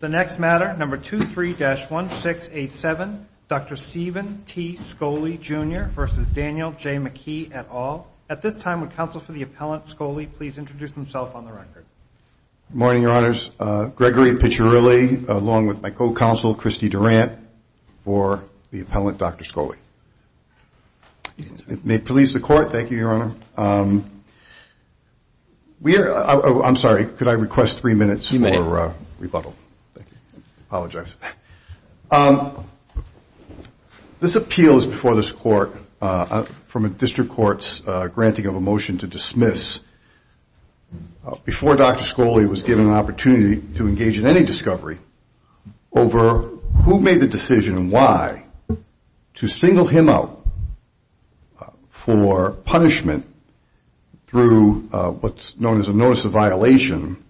The next matter, number 23-1687, Dr. Stephen T. Skoly, Jr. v. Daniel J. McKee, et al. At this time, would counsel for the appellant, Skoly, please introduce himself on the record. Good morning, Your Honors. Gregory Piccirilli, along with my co-counsel, Christy Durant, for the appellant, Dr. Skoly. May it please the Court, thank you, Your Honor. I'm sorry, could I request three minutes for rebuttal? Apologize. This appeal is before this Court from a District Court's granting of a motion to dismiss. Before Dr. Skoly was given an opportunity to engage in any discovery over who made the decision and why to single him out for punishment through what's known as a notice of violation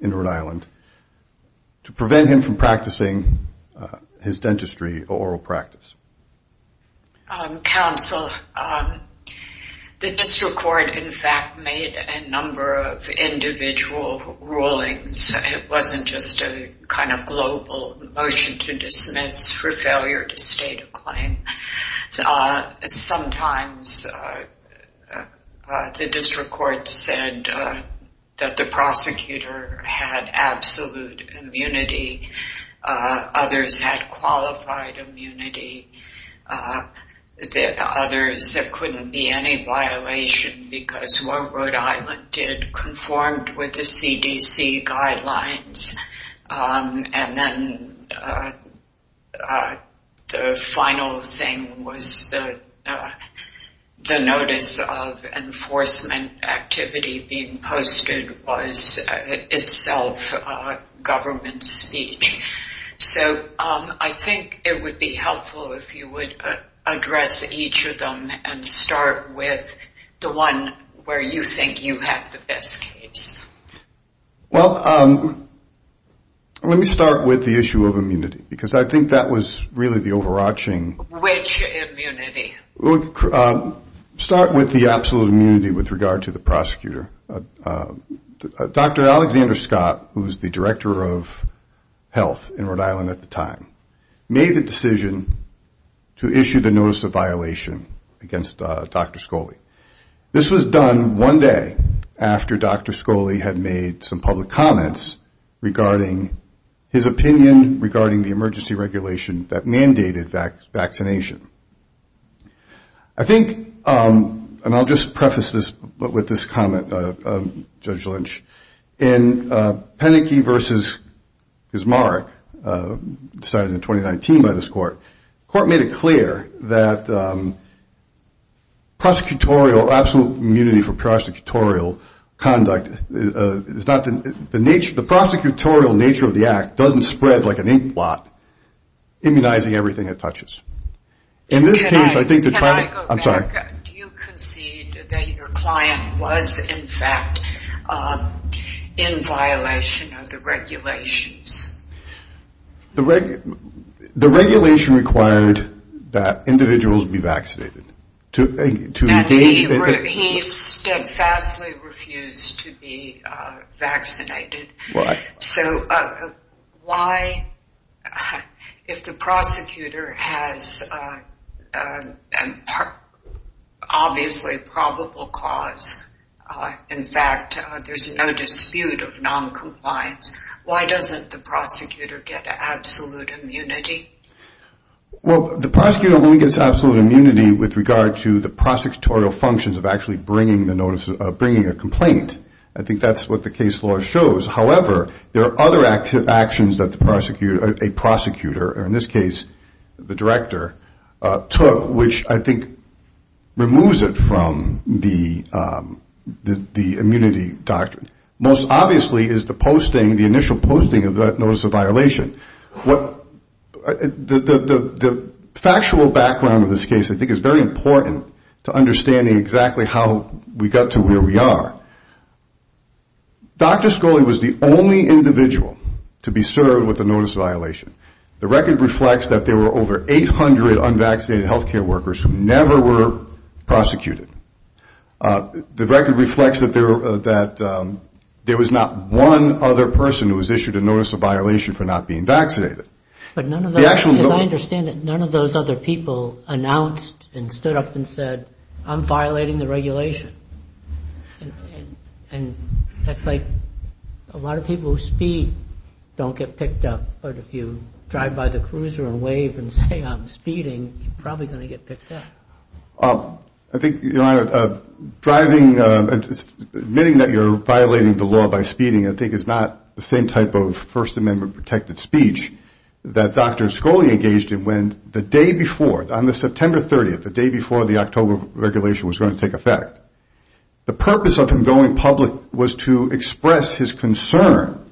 in Rhode Island to prevent him from practicing his dentistry or oral practice. Counsel, the District Court, in fact, made a number of individual rulings. It wasn't just a kind of global motion to dismiss for failure to state a claim. Sometimes the District Court said that the prosecutor had absolute immunity. Others had qualified immunity. Others, there couldn't be any violation because what Rhode Island did conformed with the CDC guidelines. And then the final thing was the notice of enforcement activity being posted was itself government speech. So I think it would be helpful if you would address each of them and start with the one where you think you have the best case. Well, let me start with the issue of immunity because I think that was really the overarching. Which immunity? Start with the absolute immunity with regard to the prosecutor. Dr. Alexander Scott, who was the director of health in Rhode Island at the time, made the decision to issue the notice of violation against Dr. Scholey. This was done one day after Dr. Scholey had made some public comments regarding his opinion regarding the emergency regulation that mandated vaccination. I think, and I'll just preface this with this comment, Judge Lynch, in Penike versus Gismarick, decided in 2019 by this court, the court made it clear that prosecutorial, absolute immunity for prosecutorial conduct, the prosecutorial nature of the act doesn't spread like an inkblot, immunizing everything it touches. Can I go back? I'm sorry. Do you concede that your client was in fact in violation of the regulations? The regulation required that individuals be vaccinated. He steadfastly refused to be vaccinated. Why? So why, if the prosecutor has obviously probable cause, in fact, there's no dispute of noncompliance, why doesn't the prosecutor get absolute immunity? Well, the prosecutor only gets absolute immunity with regard to the prosecutorial functions of actually bringing a complaint. I think that's what the case law shows. However, there are other actions that a prosecutor, or in this case the director, took, which I think removes it from the immunity doctrine. Most obviously is the posting, the initial posting of that notice of violation. The factual background of this case, I think, is very important to understanding exactly how we got to where we are. Dr. Scholey was the only individual to be served with a notice of violation. The record reflects that there were over 800 unvaccinated health care workers who never were prosecuted. The record reflects that there was not one other person who was issued a notice of violation for not being vaccinated. As I understand it, none of those other people announced and stood up and said, I'm violating the regulation. And that's like a lot of people who speed don't get picked up. But if you drive by the cruiser and wave and say I'm speeding, you're probably going to get picked up. I think driving, admitting that you're violating the law by speeding, I think is not the same type of First Amendment protected speech that Dr. Scholey engaged in. When the day before, on the September 30th, the day before the October regulation was going to take effect, the purpose of him going public was to express his concern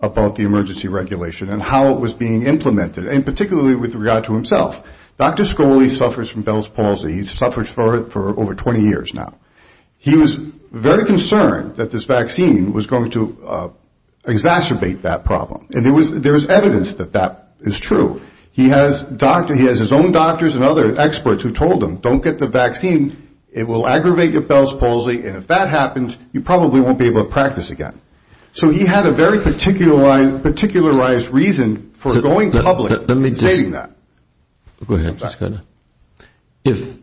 about the emergency regulation and how it was being implemented, and particularly with regard to himself. Dr. Scholey suffers from Bell's palsy. He's suffered for over 20 years now. He was very concerned that this vaccine was going to exacerbate that problem. And there was evidence that that is true. He has his own doctors and other experts who told him, don't get the vaccine. It will aggravate your Bell's palsy, and if that happens, you probably won't be able to practice again. So he had a very particularized reason for going public and stating that. If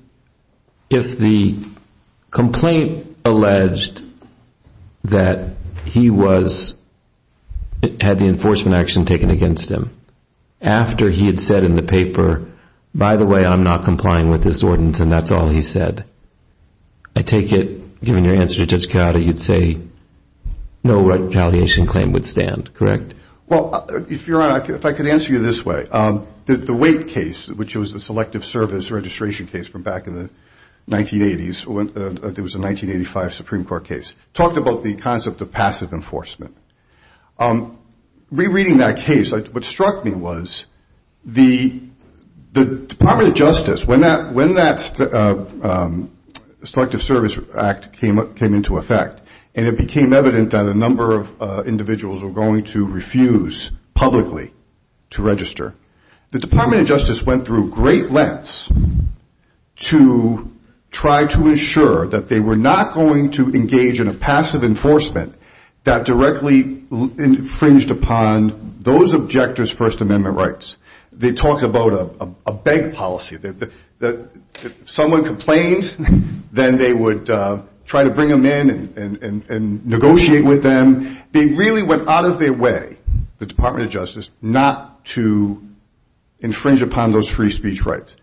the complaint alleged that he had the enforcement action taken against him, after he had said in the paper, by the way, I'm not complying with this ordinance, and that's all he said, I take it, given your answer to Judge Coyote, you'd say no retaliation claim would stand, correct? Well, Your Honor, if I could answer you this way. The Wake case, which was the Selective Service registration case from back in the 1980s, it was a 1985 Supreme Court case, talked about the concept of passive enforcement. Rereading that case, what struck me was the Department of Justice, when that Selective Service Act came into effect, and it became evident that a number of individuals were going to refuse publicly to register, the Department of Justice went through great lengths to try to ensure that they were not going to engage in a passive enforcement that directly infringed upon those objectors' First Amendment rights. They talked about a bank policy, that if someone complained, then they would try to bring them in and negotiate with them. They really went out of their way, the Department of Justice, not to infringe upon those free speech rights.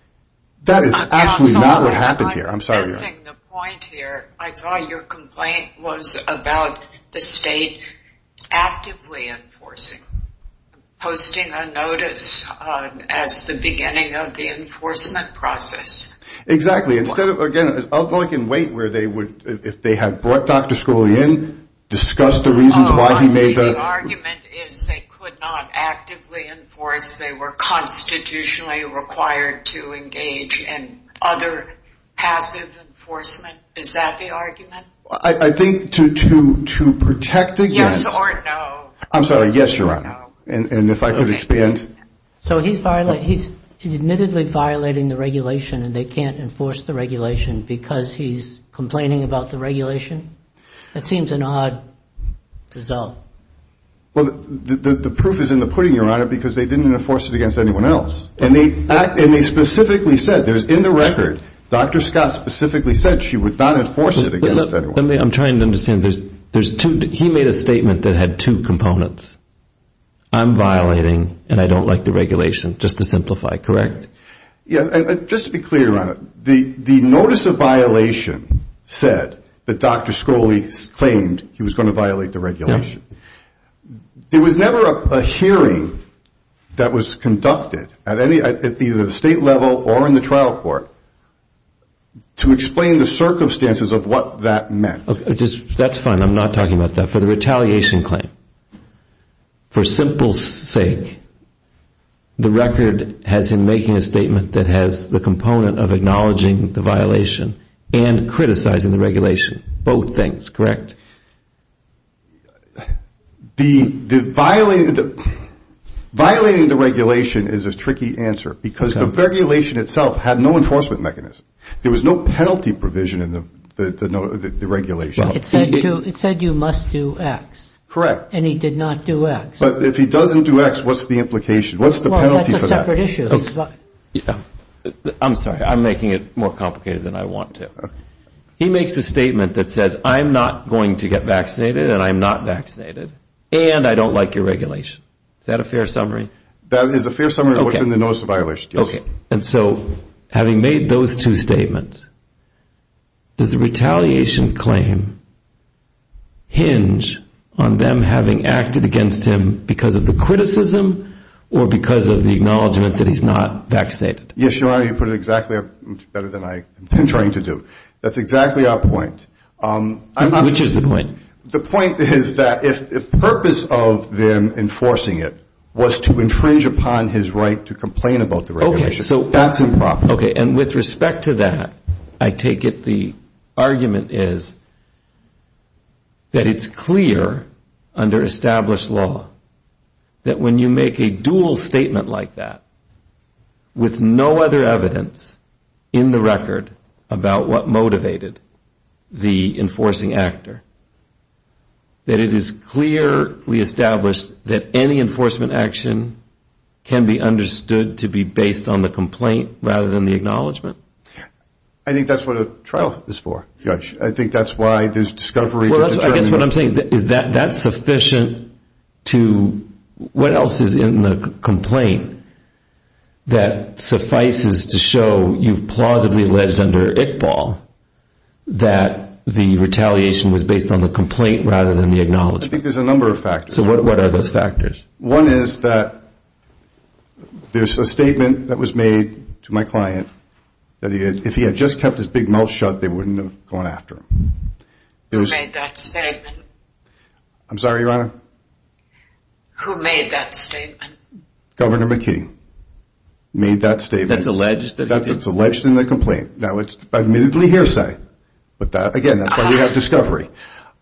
That is actually not what happened here. Missing the point here, I thought your complaint was about the state actively enforcing, posting a notice as the beginning of the enforcement process. Exactly, instead of, again, I can wait where they would, if they had brought Dr. Scrooge in, discussed the reasons why he made the... Oh, I see, the argument is they could not actively enforce, they were constitutionally required to engage in other passive enforcement, is that the argument? I think to protect against... Yes or no. I'm sorry, yes, Your Honor, and if I could expand. So he's admittedly violating the regulation and they can't enforce the regulation because he's complaining about the regulation? That seems an odd result. Well, the proof is in the pudding, Your Honor, because they didn't enforce it against anyone else. And they specifically said, in the record, Dr. Scott specifically said she would not enforce it against anyone. I'm trying to understand, he made a statement that had two components, I'm violating and I don't like the regulation, just to simplify, correct? Yes, and just to be clear, Your Honor, the notice of violation said that Dr. Scrooge claimed he was going to violate the regulation. There was never a hearing that was conducted at either the state level or in the trial court to explain the circumstances of what that meant. That's fine, I'm not talking about that. For the retaliation claim, for simple sake, the record has him making a statement that has the component of acknowledging the violation and criticizing the regulation. Both things, correct? Violating the regulation is a tricky answer because the regulation itself had no enforcement mechanism. There was no penalty provision in the regulation. It said you must do X. Correct. And he did not do X. But if he doesn't do X, what's the implication? Well, that's a separate issue. I'm sorry, I'm making it more complicated than I want to. He makes a statement that says I'm not going to get vaccinated and I'm not vaccinated and I don't like your regulation. Is that a fair summary? That is a fair summary of what's in the notice of violation, yes. And so having made those two statements, does the retaliation claim hinge on them having acted against him because of the criticism or because of the acknowledgement that he's not vaccinated? Yes, Your Honor, you put it exactly better than I intend trying to do. That's exactly our point. Which is the point? The point is that if the purpose of them enforcing it was to infringe upon his right to complain about the regulation, that's improper. Okay. And with respect to that, I take it the argument is that it's clear under established law that when you make a dual statement like that with no other evidence in the record about what motivated the enforcing actor, that it is clearly established that any enforcement action can be understood to be based on the complaint rather than the acknowledgement. I think that's what a trial is for, Judge. I think that's why there's discovery. Well, I guess what I'm saying is that that's sufficient to what else is in the complaint that suffices to show you've plausibly alleged under Iqbal that the retaliation was based on the complaint rather than the acknowledgement? I think there's a number of factors. So what are those factors? One is that there's a statement that was made to my client that if he had just kept his big mouth shut, they wouldn't have gone after him. Who made that statement? I'm sorry, Your Honor? Who made that statement? Governor McKee made that statement. That's alleged? That's alleged in the complaint. Now, it's admittedly hearsay. Again, that's why we have discovery.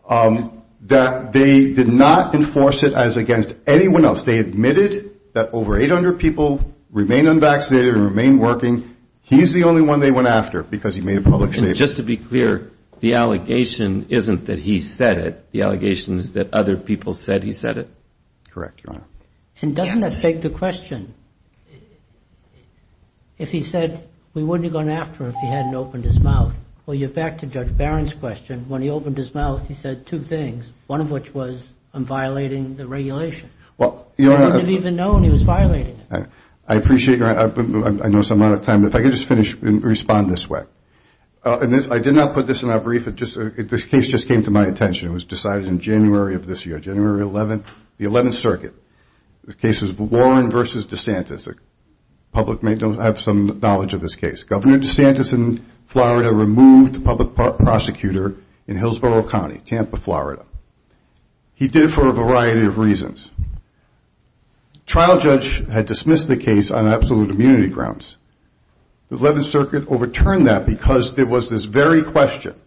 That they did not enforce it as against anyone else. They admitted that over 800 people remained unvaccinated and remained working. He's the only one they went after because he made a public statement. So just to be clear, the allegation isn't that he said it. The allegation is that other people said he said it? Correct, Your Honor. And doesn't that beg the question? If he said we wouldn't have gone after him if he hadn't opened his mouth. Well, you're back to Judge Barron's question. When he opened his mouth, he said two things, one of which was I'm violating the regulation. We wouldn't have even known he was violating it. I know I'm out of time, but if I could just finish and respond this way. I did not put this in our brief, this case just came to my attention. It was decided in January of this year, January 11th, the 11th Circuit. The case was Warren v. DeSantis. The public may have some knowledge of this case. Governor DeSantis in Florida removed a public prosecutor in Hillsborough County, Tampa, Florida. He did it for a variety of reasons. The trial judge had dismissed the case on absolute immunity grounds. The 11th Circuit overturned that because there was this very question.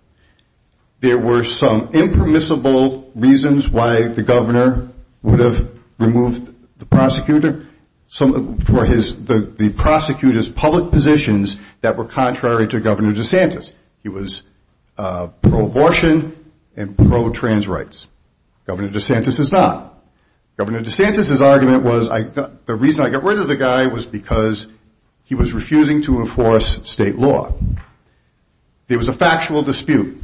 There were some impermissible reasons why the governor would have removed the prosecutor. The prosecutor's public positions that were contrary to Governor DeSantis. He was pro-abortion and pro-trans rights. Governor DeSantis is not. Governor DeSantis' argument was the reason I got rid of the guy was because he was refusing to enforce state law. It was a factual dispute.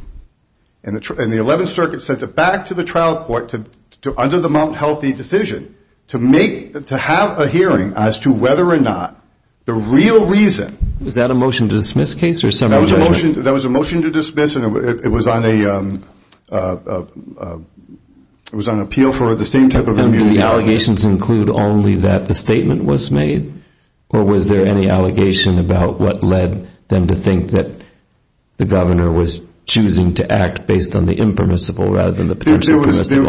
The 11th Circuit sent it back to the trial court under the Mount Healthy decision to have a hearing as to whether or not the real reason was that a motion to dismiss case? That was a motion to dismiss. It was on appeal for the same type of immunity. Did the allegations include only that the statement was made? Or was there any allegation about what led them to think that the governor was choosing to act based on the impermissible rather than the potential permissible?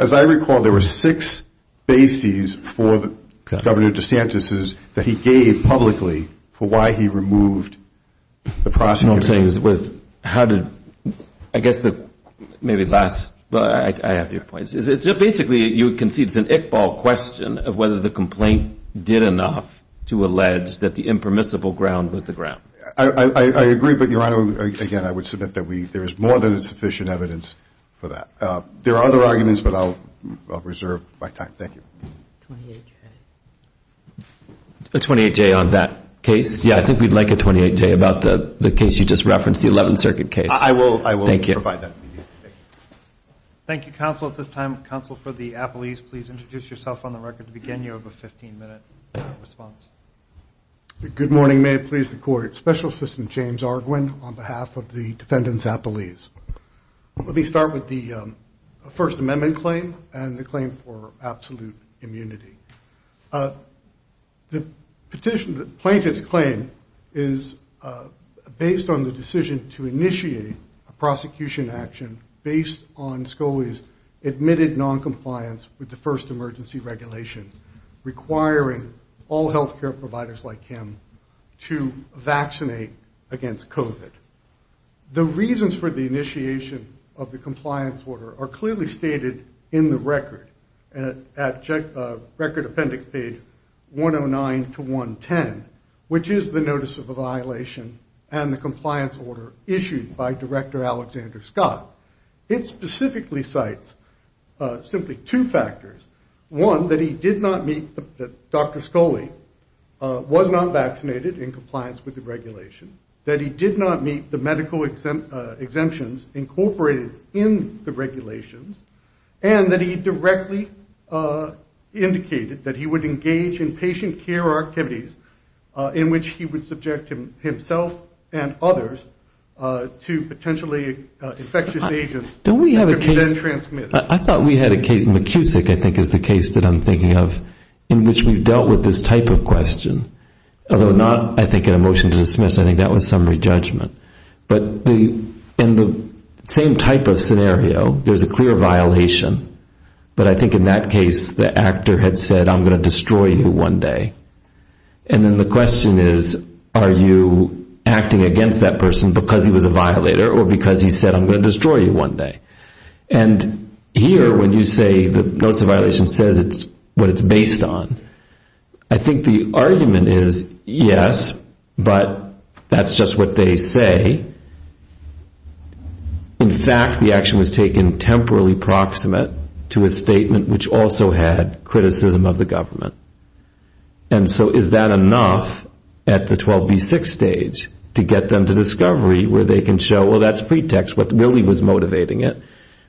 As I recall, there were six bases for Governor DeSantis that he gave publicly for why he removed the prosecutor. You know what I'm saying? I have your points. Basically, you can see it's an Iqbal question of whether the complaint did enough to allege that the impermissible ground was the ground. I agree, but Your Honor, again, I would submit that there is more than sufficient evidence for that. There are other arguments, but I'll reserve my time. Thank you. A 28-J on that case? Yeah, I think we'd like a 28-J about the case you just referenced, the 11th Circuit case. I will provide that. Thank you, counsel. At this time, counsel for the appellees, please introduce yourself on the record to begin your 15-minute response. Good morning. May it please the Court. Special Assistant James Arguin on behalf of the defendants appellees. Let me start with the First Amendment claim and the claim for absolute immunity. The plaintiff's claim is based on the decision to initiate a prosecution action based on SCOE's admitted noncompliance with the first emergency regulation requiring all health care providers like him to vaccinate against COVID. The reasons for the initiation of the compliance order are clearly stated in the record appendix page 109-110, which is the notice of the violation and the compliance order issued by Director Alexander Scott. It specifically cites simply two factors. One, that he did not meet Dr. Scholey, was not vaccinated in compliance with the regulation, that he did not meet the medical exemptions incorporated in the regulations, and that he directly indicated that he would engage in patient care activities in which he would subject himself and others to potentially infectious agents to be then transmitted. I thought we had a case, McKusick I think is the case that I'm thinking of, in which we've dealt with this type of question. Although not, I think, in a motion to dismiss, I think that was summary judgment. But in the same type of scenario, there's a clear violation. But I think in that case, the actor had said, I'm going to destroy you one day. And then the question is, are you acting against that person because he was a violator or because he said, I'm going to destroy you one day? Here, when you say the notice of violation says what it's based on, I think the argument is, yes, but that's just what they say. In fact, the action was taken temporarily proximate to a statement which also had criticism of the government. And so is that enough at the 12B6 stage to get them to discovery where they can show, well, that's pretext, what really was motivating it.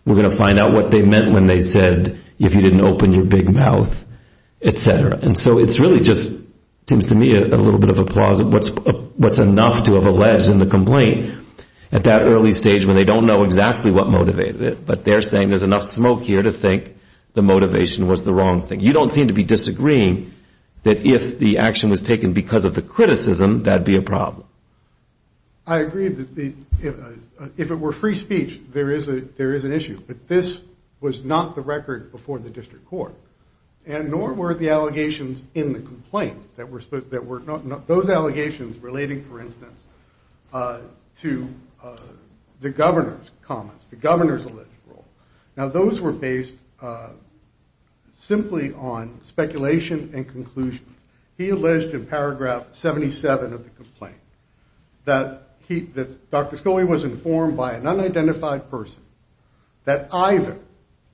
We're going to find out what they meant when they said, if you didn't open your big mouth, etc. And so it's really just seems to me a little bit of a pause of what's enough to have alleged in the complaint at that early stage when they don't know exactly what motivated it. But they're saying there's enough smoke here to think the motivation was the wrong thing. You don't seem to be disagreeing that if the action was taken because of the criticism, that'd be a problem. I agree that if it were free speech, there is an issue. But this was not the record before the district court. And nor were the allegations in the complaint. Those allegations relating, for instance, to the governor's comments, the governor's alleged role. Now those were based simply on speculation and conclusion. He alleged in paragraph 77 of the complaint that Dr. Scully was informed by an unidentified person that either,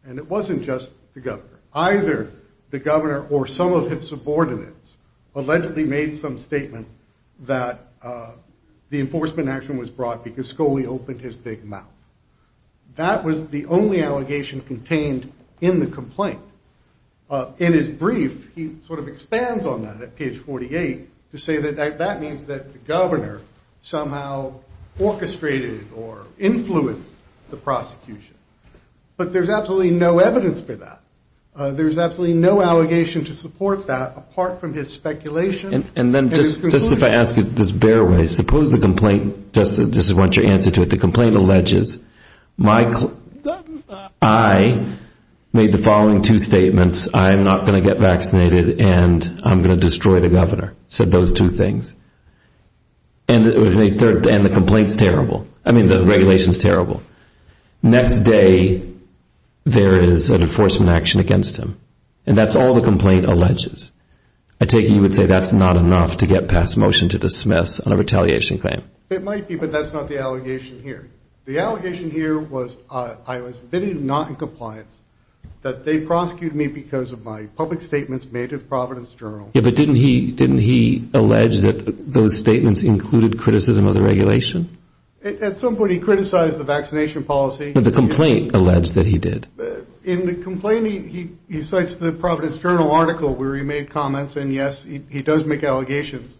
and it wasn't just the governor, either the governor or some of his subordinates allegedly made some statement that the enforcement action was brought because Scully opened his big mouth. That was the only allegation contained in the complaint. In his brief, he sort of expands on that at page 48 to say that that means that the governor somehow orchestrated or influenced the prosecution. But there's absolutely no evidence for that. There's absolutely no allegation to support that apart from his speculation. And then just if I ask it this bare way, suppose the complaint, this is what your answer to it, the complaint alleges I made the following two statements. I'm not going to get vaccinated and I'm going to destroy the governor. So those two things. And the complaint's terrible. I mean the regulation's terrible. Next day there is an enforcement action against him. And that's all the complaint alleges. I take it you would say that's not enough to get past motion to dismiss on a retaliation claim. It might be, but that's not the allegation here. The allegation here was I was admitted not in compliance, that they prosecuted me because of my public statements made at Providence Journal. Yeah, but didn't he allege that those statements included criticism of the regulation? At some point he criticized the vaccination policy. But the complaint alleged that he did. In the complaint he cites the Providence Journal article where he made comments and yes, he does make allegations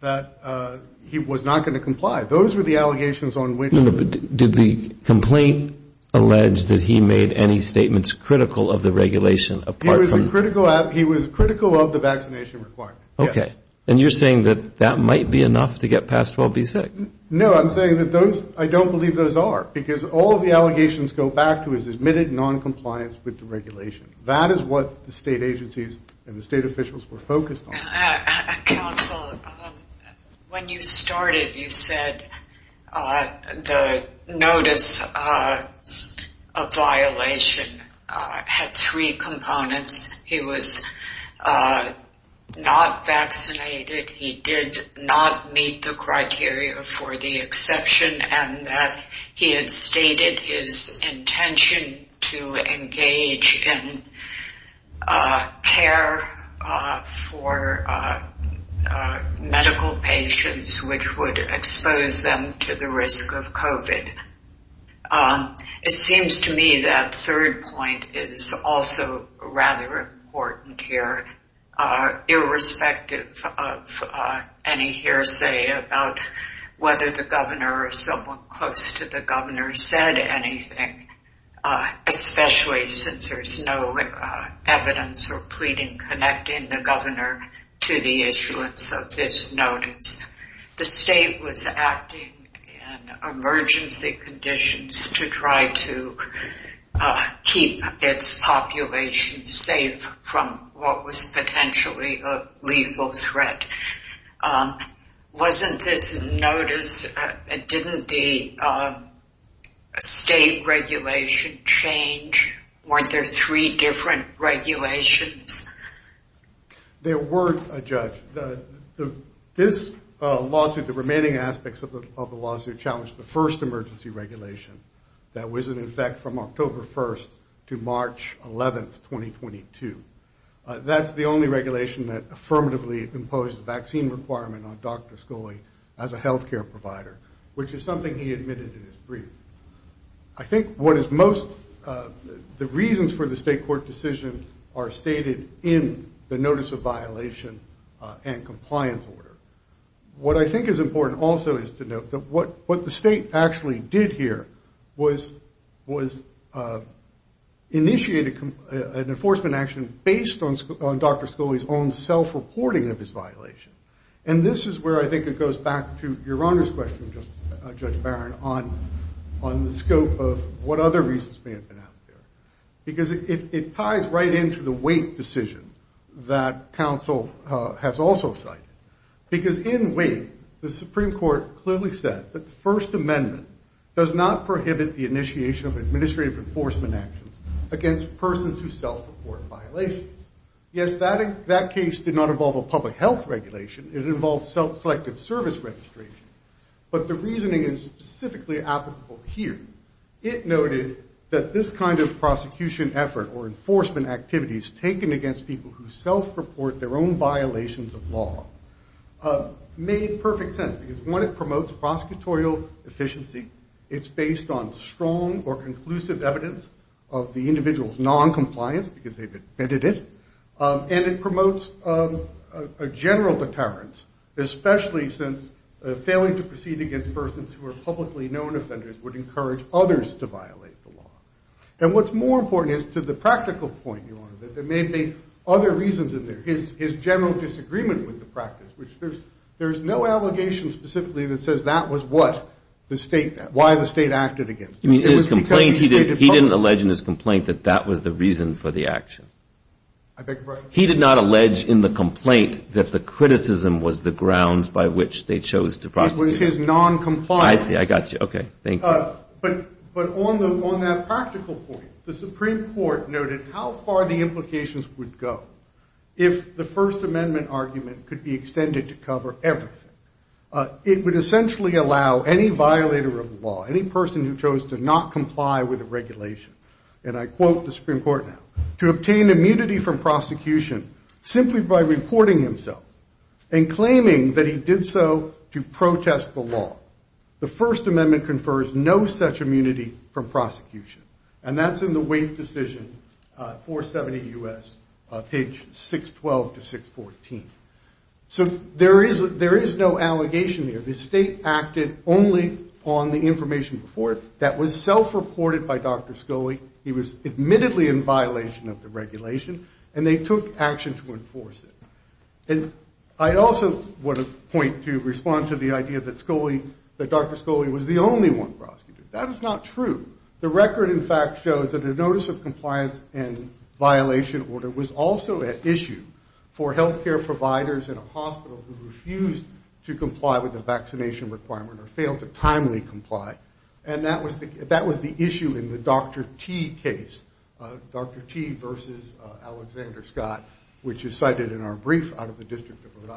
that he was not going to comply. Those were the allegations on which No, but did the complaint allege that he made any statements critical of the regulation? He was critical of the vaccination requirement. Okay. And you're saying that that might be enough to get past 12B6? No, I'm saying that those, I don't believe those are. Because all the allegations go back to his admitted noncompliance with the regulation. That is what the state agencies and the state officials were focused on. Council, when you started you said the notice of violation had three components. He was not vaccinated. He did not meet the criteria for the exception and that he had stated his intention to engage in care for medical patients which would expose them to the risk of COVID. It seems to me that third point is also rather important here. The state was acting irrespective of any hearsay about whether the governor or someone close to the governor said anything, especially since there's no evidence or pleading connecting the governor to the issuance of this notice. The state was acting in emergency conditions to try to keep its population safe from what was potentially a lethal threat. Wasn't this notice didn't the state regulation change? Weren't there three different regulations? There were, Judge. This lawsuit, the remaining aspects of the lawsuit challenged the first emergency regulation that was in effect from October 1st to March 11th, 2022. That's the only regulation that affirmatively imposed vaccine requirement on Dr. Scully as a health care provider, which is something he admitted in his brief. I think what is most, the reasons for the state court decision are stated in the notice of violation and compliance order. What I think is important also is to note that what the state actually did here was initiated an enforcement action based on Dr. Scully's own self-reporting of his violation. And this is where I think it goes back to Your Honor's question, Judge Barron, on the scope of what other reasons may have been out there. Because it ties right into the wait decision that counsel has also cited. Because in wait, the Supreme Court clearly said that the First Amendment does not prohibit the initiation of administrative enforcement actions against persons who self-report violations. Yes, that case did not involve a public health regulation. It involved self-selected service registration. But the reasoning is specifically applicable here. It noted that this kind of prosecution effort or enforcement activities taken against people who self-report their own violations of law made perfect sense because, one, it promotes prosecutorial efficiency. It's based on strong or conclusive evidence of the individual's non-compliance because they've admitted it. And it promotes a general deterrence, especially since failing to proceed against persons who are publicly known offenders would encourage others to violate the law. And what's more important is, to the practical point, Your Honor, that there are reasons in there. His general disagreement with the practice, which there's no allegation specifically that says that was what the State, why the State acted against him. It was because he stated publicly. He didn't allege in his complaint that that was the reason for the action. I beg your pardon? He did not allege in the complaint that the criticism was the grounds by which they chose to prosecute. It was his non-compliance. I see. I got you. Okay. Thank you. But on that practical point, the Supreme Court noted how far the implications would go if the First Amendment argument could be extended to cover everything. It would essentially allow any violator of the law, any person who chose to not comply with the regulation, and I quote the Supreme Court now, to obtain immunity from prosecution simply by reporting himself and claiming that he did so to protest the law. The First Amendment confers no such immunity from prosecution. And that's in the weight decision, 470 U.S., page 612 to 614. So there is no allegation there. The State acted only on the information before it that was self-reported by Dr. Scully. He was admittedly in violation of the regulation, and they took action to enforce it. And I also want to point to respond to the idea that Dr. Scully was the only one prosecuted. That is not true. The record, in fact, shows that a notice of compliance and violation order was also at issue for health care providers in a hospital who refused to comply with the vaccination requirement or failed to timely comply. And that was the issue in the Dr. T case, Dr. T versus Alexander Scott, which is cited in our brief out of the District of Rhode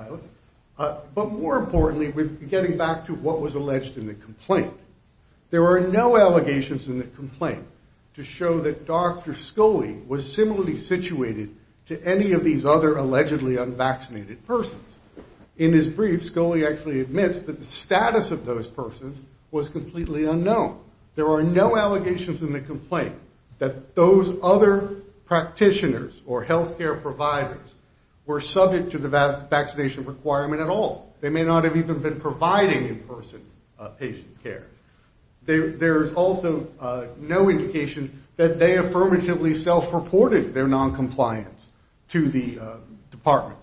Island. But more importantly, getting back to what was alleged in the complaint, there are no allegations in the complaint to show that Dr. Scully was similarly situated to any of these other allegedly unvaccinated persons. In his brief, Scully actually admits that the status of those persons was completely unknown. There are no allegations in the complaint that those other practitioners or health care providers were subject to the vaccination requirement at all. They may not have even been providing in-person patient care. There is also no indication that they affirmatively self-reported their noncompliance to the department.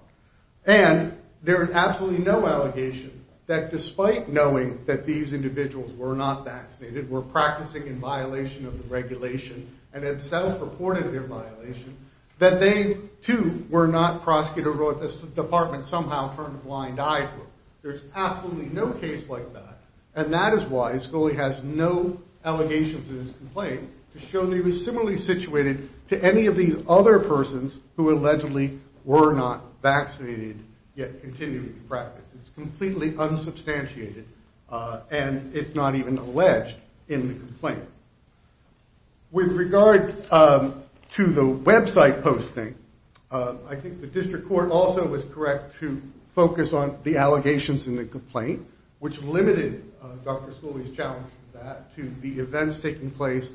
And there is absolutely no allegation that despite knowing that these individuals were not vaccinated, were practicing in violation of the regulation, and had self-reported their violation, that they, too, were not prosecuted or the department somehow turned a blind eye to it. There is absolutely no case like that, and that is why Scully has no allegations in his complaint to show that he was similarly situated to any of these other persons who allegedly were not vaccinated, yet continued to practice. It's completely unsubstantiated, and it's not even alleged in the complaint. With regard to the website posting, I think the District Court also was correct to focus on the allegations in the complaint, which limited Dr. Scully's challenge to that, to the events taking place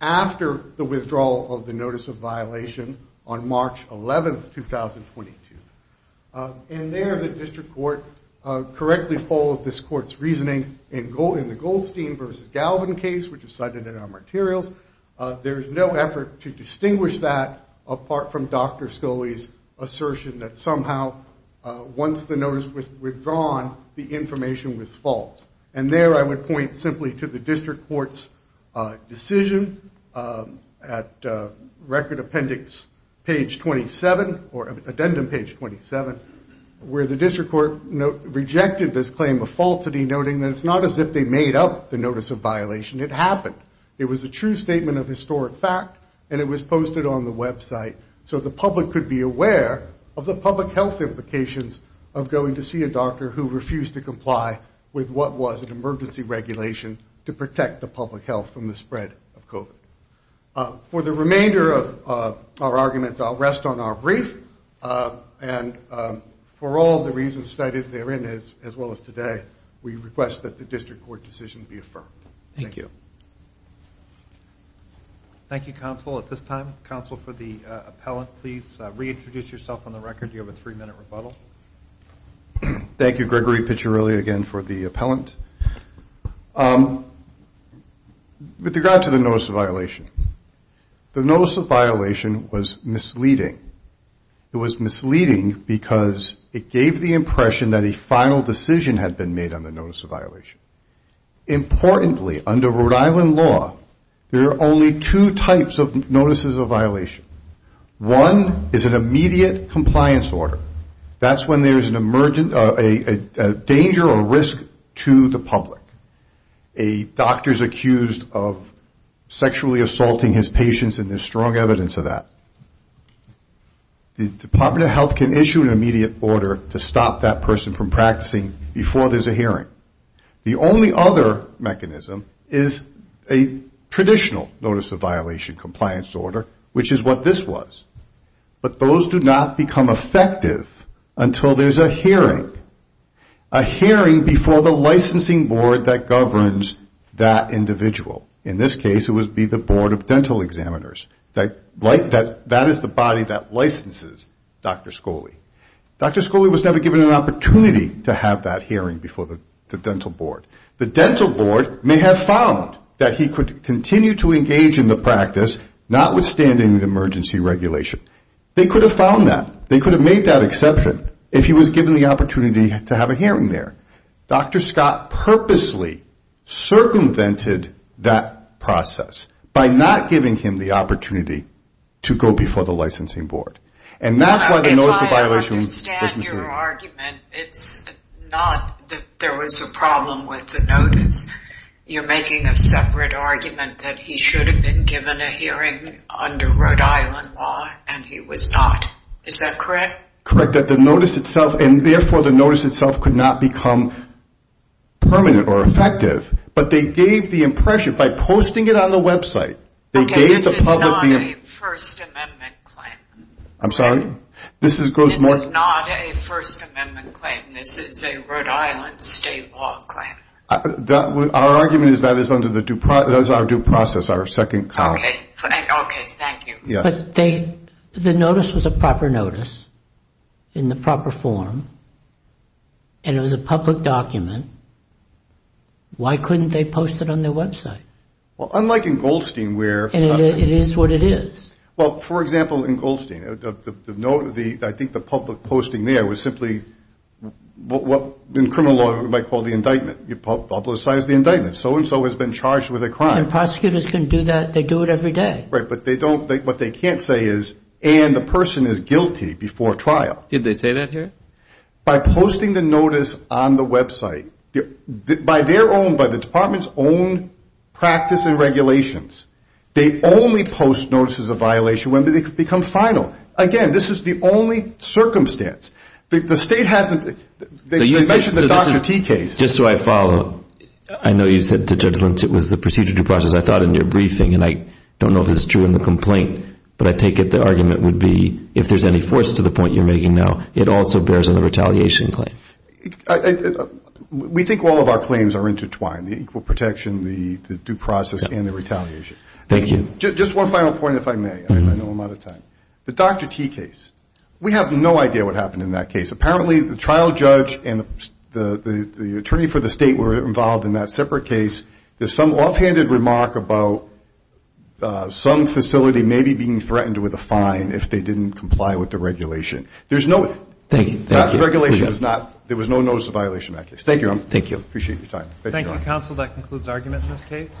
after the withdrawal of the notice of violation on March 11, 2022. And there, the District Court correctly followed this Court's reasoning in the Goldstein v. Galvin case, which is cited in our materials. There is no effort to distinguish that, apart from Dr. Scully's assertion that somehow, once the notice was withdrawn, the information was false. And there, I would point simply to the District Court's decision at Record Appendix page 27, or Addendum page 27, where the District Court rejected this claim of falsity, noting that it's not as if they made up the notice of violation. It happened. It was a true statement of historic fact, and it was so that the public could be aware of the public health implications of going to see a doctor who refused to comply with what was an emergency regulation to protect the public health from the spread of COVID. For the remainder of our arguments, I'll rest on our brief. And for all the reasons cited therein, as well as today, we request that the District Court decision be affirmed. Thank you. Thank you, Counsel. At this time, Counsel for the Appellant, please reintroduce yourself on the record. You have a three-minute rebuttal. Thank you, Gregory Piccirilli, again, for the Appellant. With regard to the notice of violation, the notice of violation was misleading. It was misleading because it gave the impression that a final decision had been made on the notice of violation. Importantly, under Rhode Island law, there are only two types of notices of violation. One is an immediate compliance order. That's when there's a danger or risk to the public. A doctor is accused of sexually assaulting his patients, and there's strong evidence of that. The Department of Health can issue an immediate order to stop that person from practicing before there's a hearing. The only other mechanism is a traditional notice of violation compliance order, which is what this was. But those do not become effective until there's a hearing. A hearing before the licensing board that governs that individual. In this case, it would be the Board of Dental Examiners. That is the body that licenses Dr. Scholey. Dr. Scholey was never given an opportunity to have that hearing before the dental board. The dental board may have found that he could continue to engage in the practice, notwithstanding the emergency regulation. They could have found that. They could have made that exception if he was given the opportunity to have a hearing there. Dr. Scott purposely circumvented that process by not giving him the opportunity to go before the licensing board. And that's why if I understand your argument, it's not that there was a problem with the notice. You're making a separate argument that he should have been given a hearing under Rhode Island law, and he was not. Is that correct? Correct. And therefore the notice itself could not become permanent or effective. But they gave the impression by posting it on the website. Okay, this is not a First Amendment claim. I'm sorry? This is not a First Amendment claim. This is a Rhode Island state law claim. Our argument is that is our due process, our second copy. Okay, thank you. But the notice was a proper notice, in the proper form, and it was a public document. Why couldn't they post it on their website? Well, unlike in Goldstein where... And it is what it is. Well, for example, in Goldstein, I think the public posting there was simply what in criminal law you might call the indictment. You publicize the indictment. So and so has been charged with a crime. Prosecutors can do that. They do it every day. Right, but what they can't say is and the person is guilty before trial. Did they say that here? By posting the notice on the website, by their own, by the department's own practice and regulations, they only post notices of violation when they become final. Again, this is the only circumstance. The state hasn't mentioned the Dr. T case. Just so I follow, I know you said to Judge Lynch it was the procedure due process. I thought in your briefing, and I don't know if this is true in the complaint, but I take it the argument would be if there's any force to the point you're making now, it also bears on the retaliation claim. We think all of our claims are intertwined. The equal protection, the due process and the retaliation. Thank you. Just one final point if I may. I know I'm out of time. The Dr. T case. We have no idea what happened in that case. Apparently the trial judge and the attorney for the state were involved in that separate case. There's some offhanded remark about some facility maybe being threatened with a fine if they didn't comply with the regulation. There's no regulation. There was no notice of violation in that case. Thank you. Appreciate your time. Thank you, counsel. That concludes argument in this case.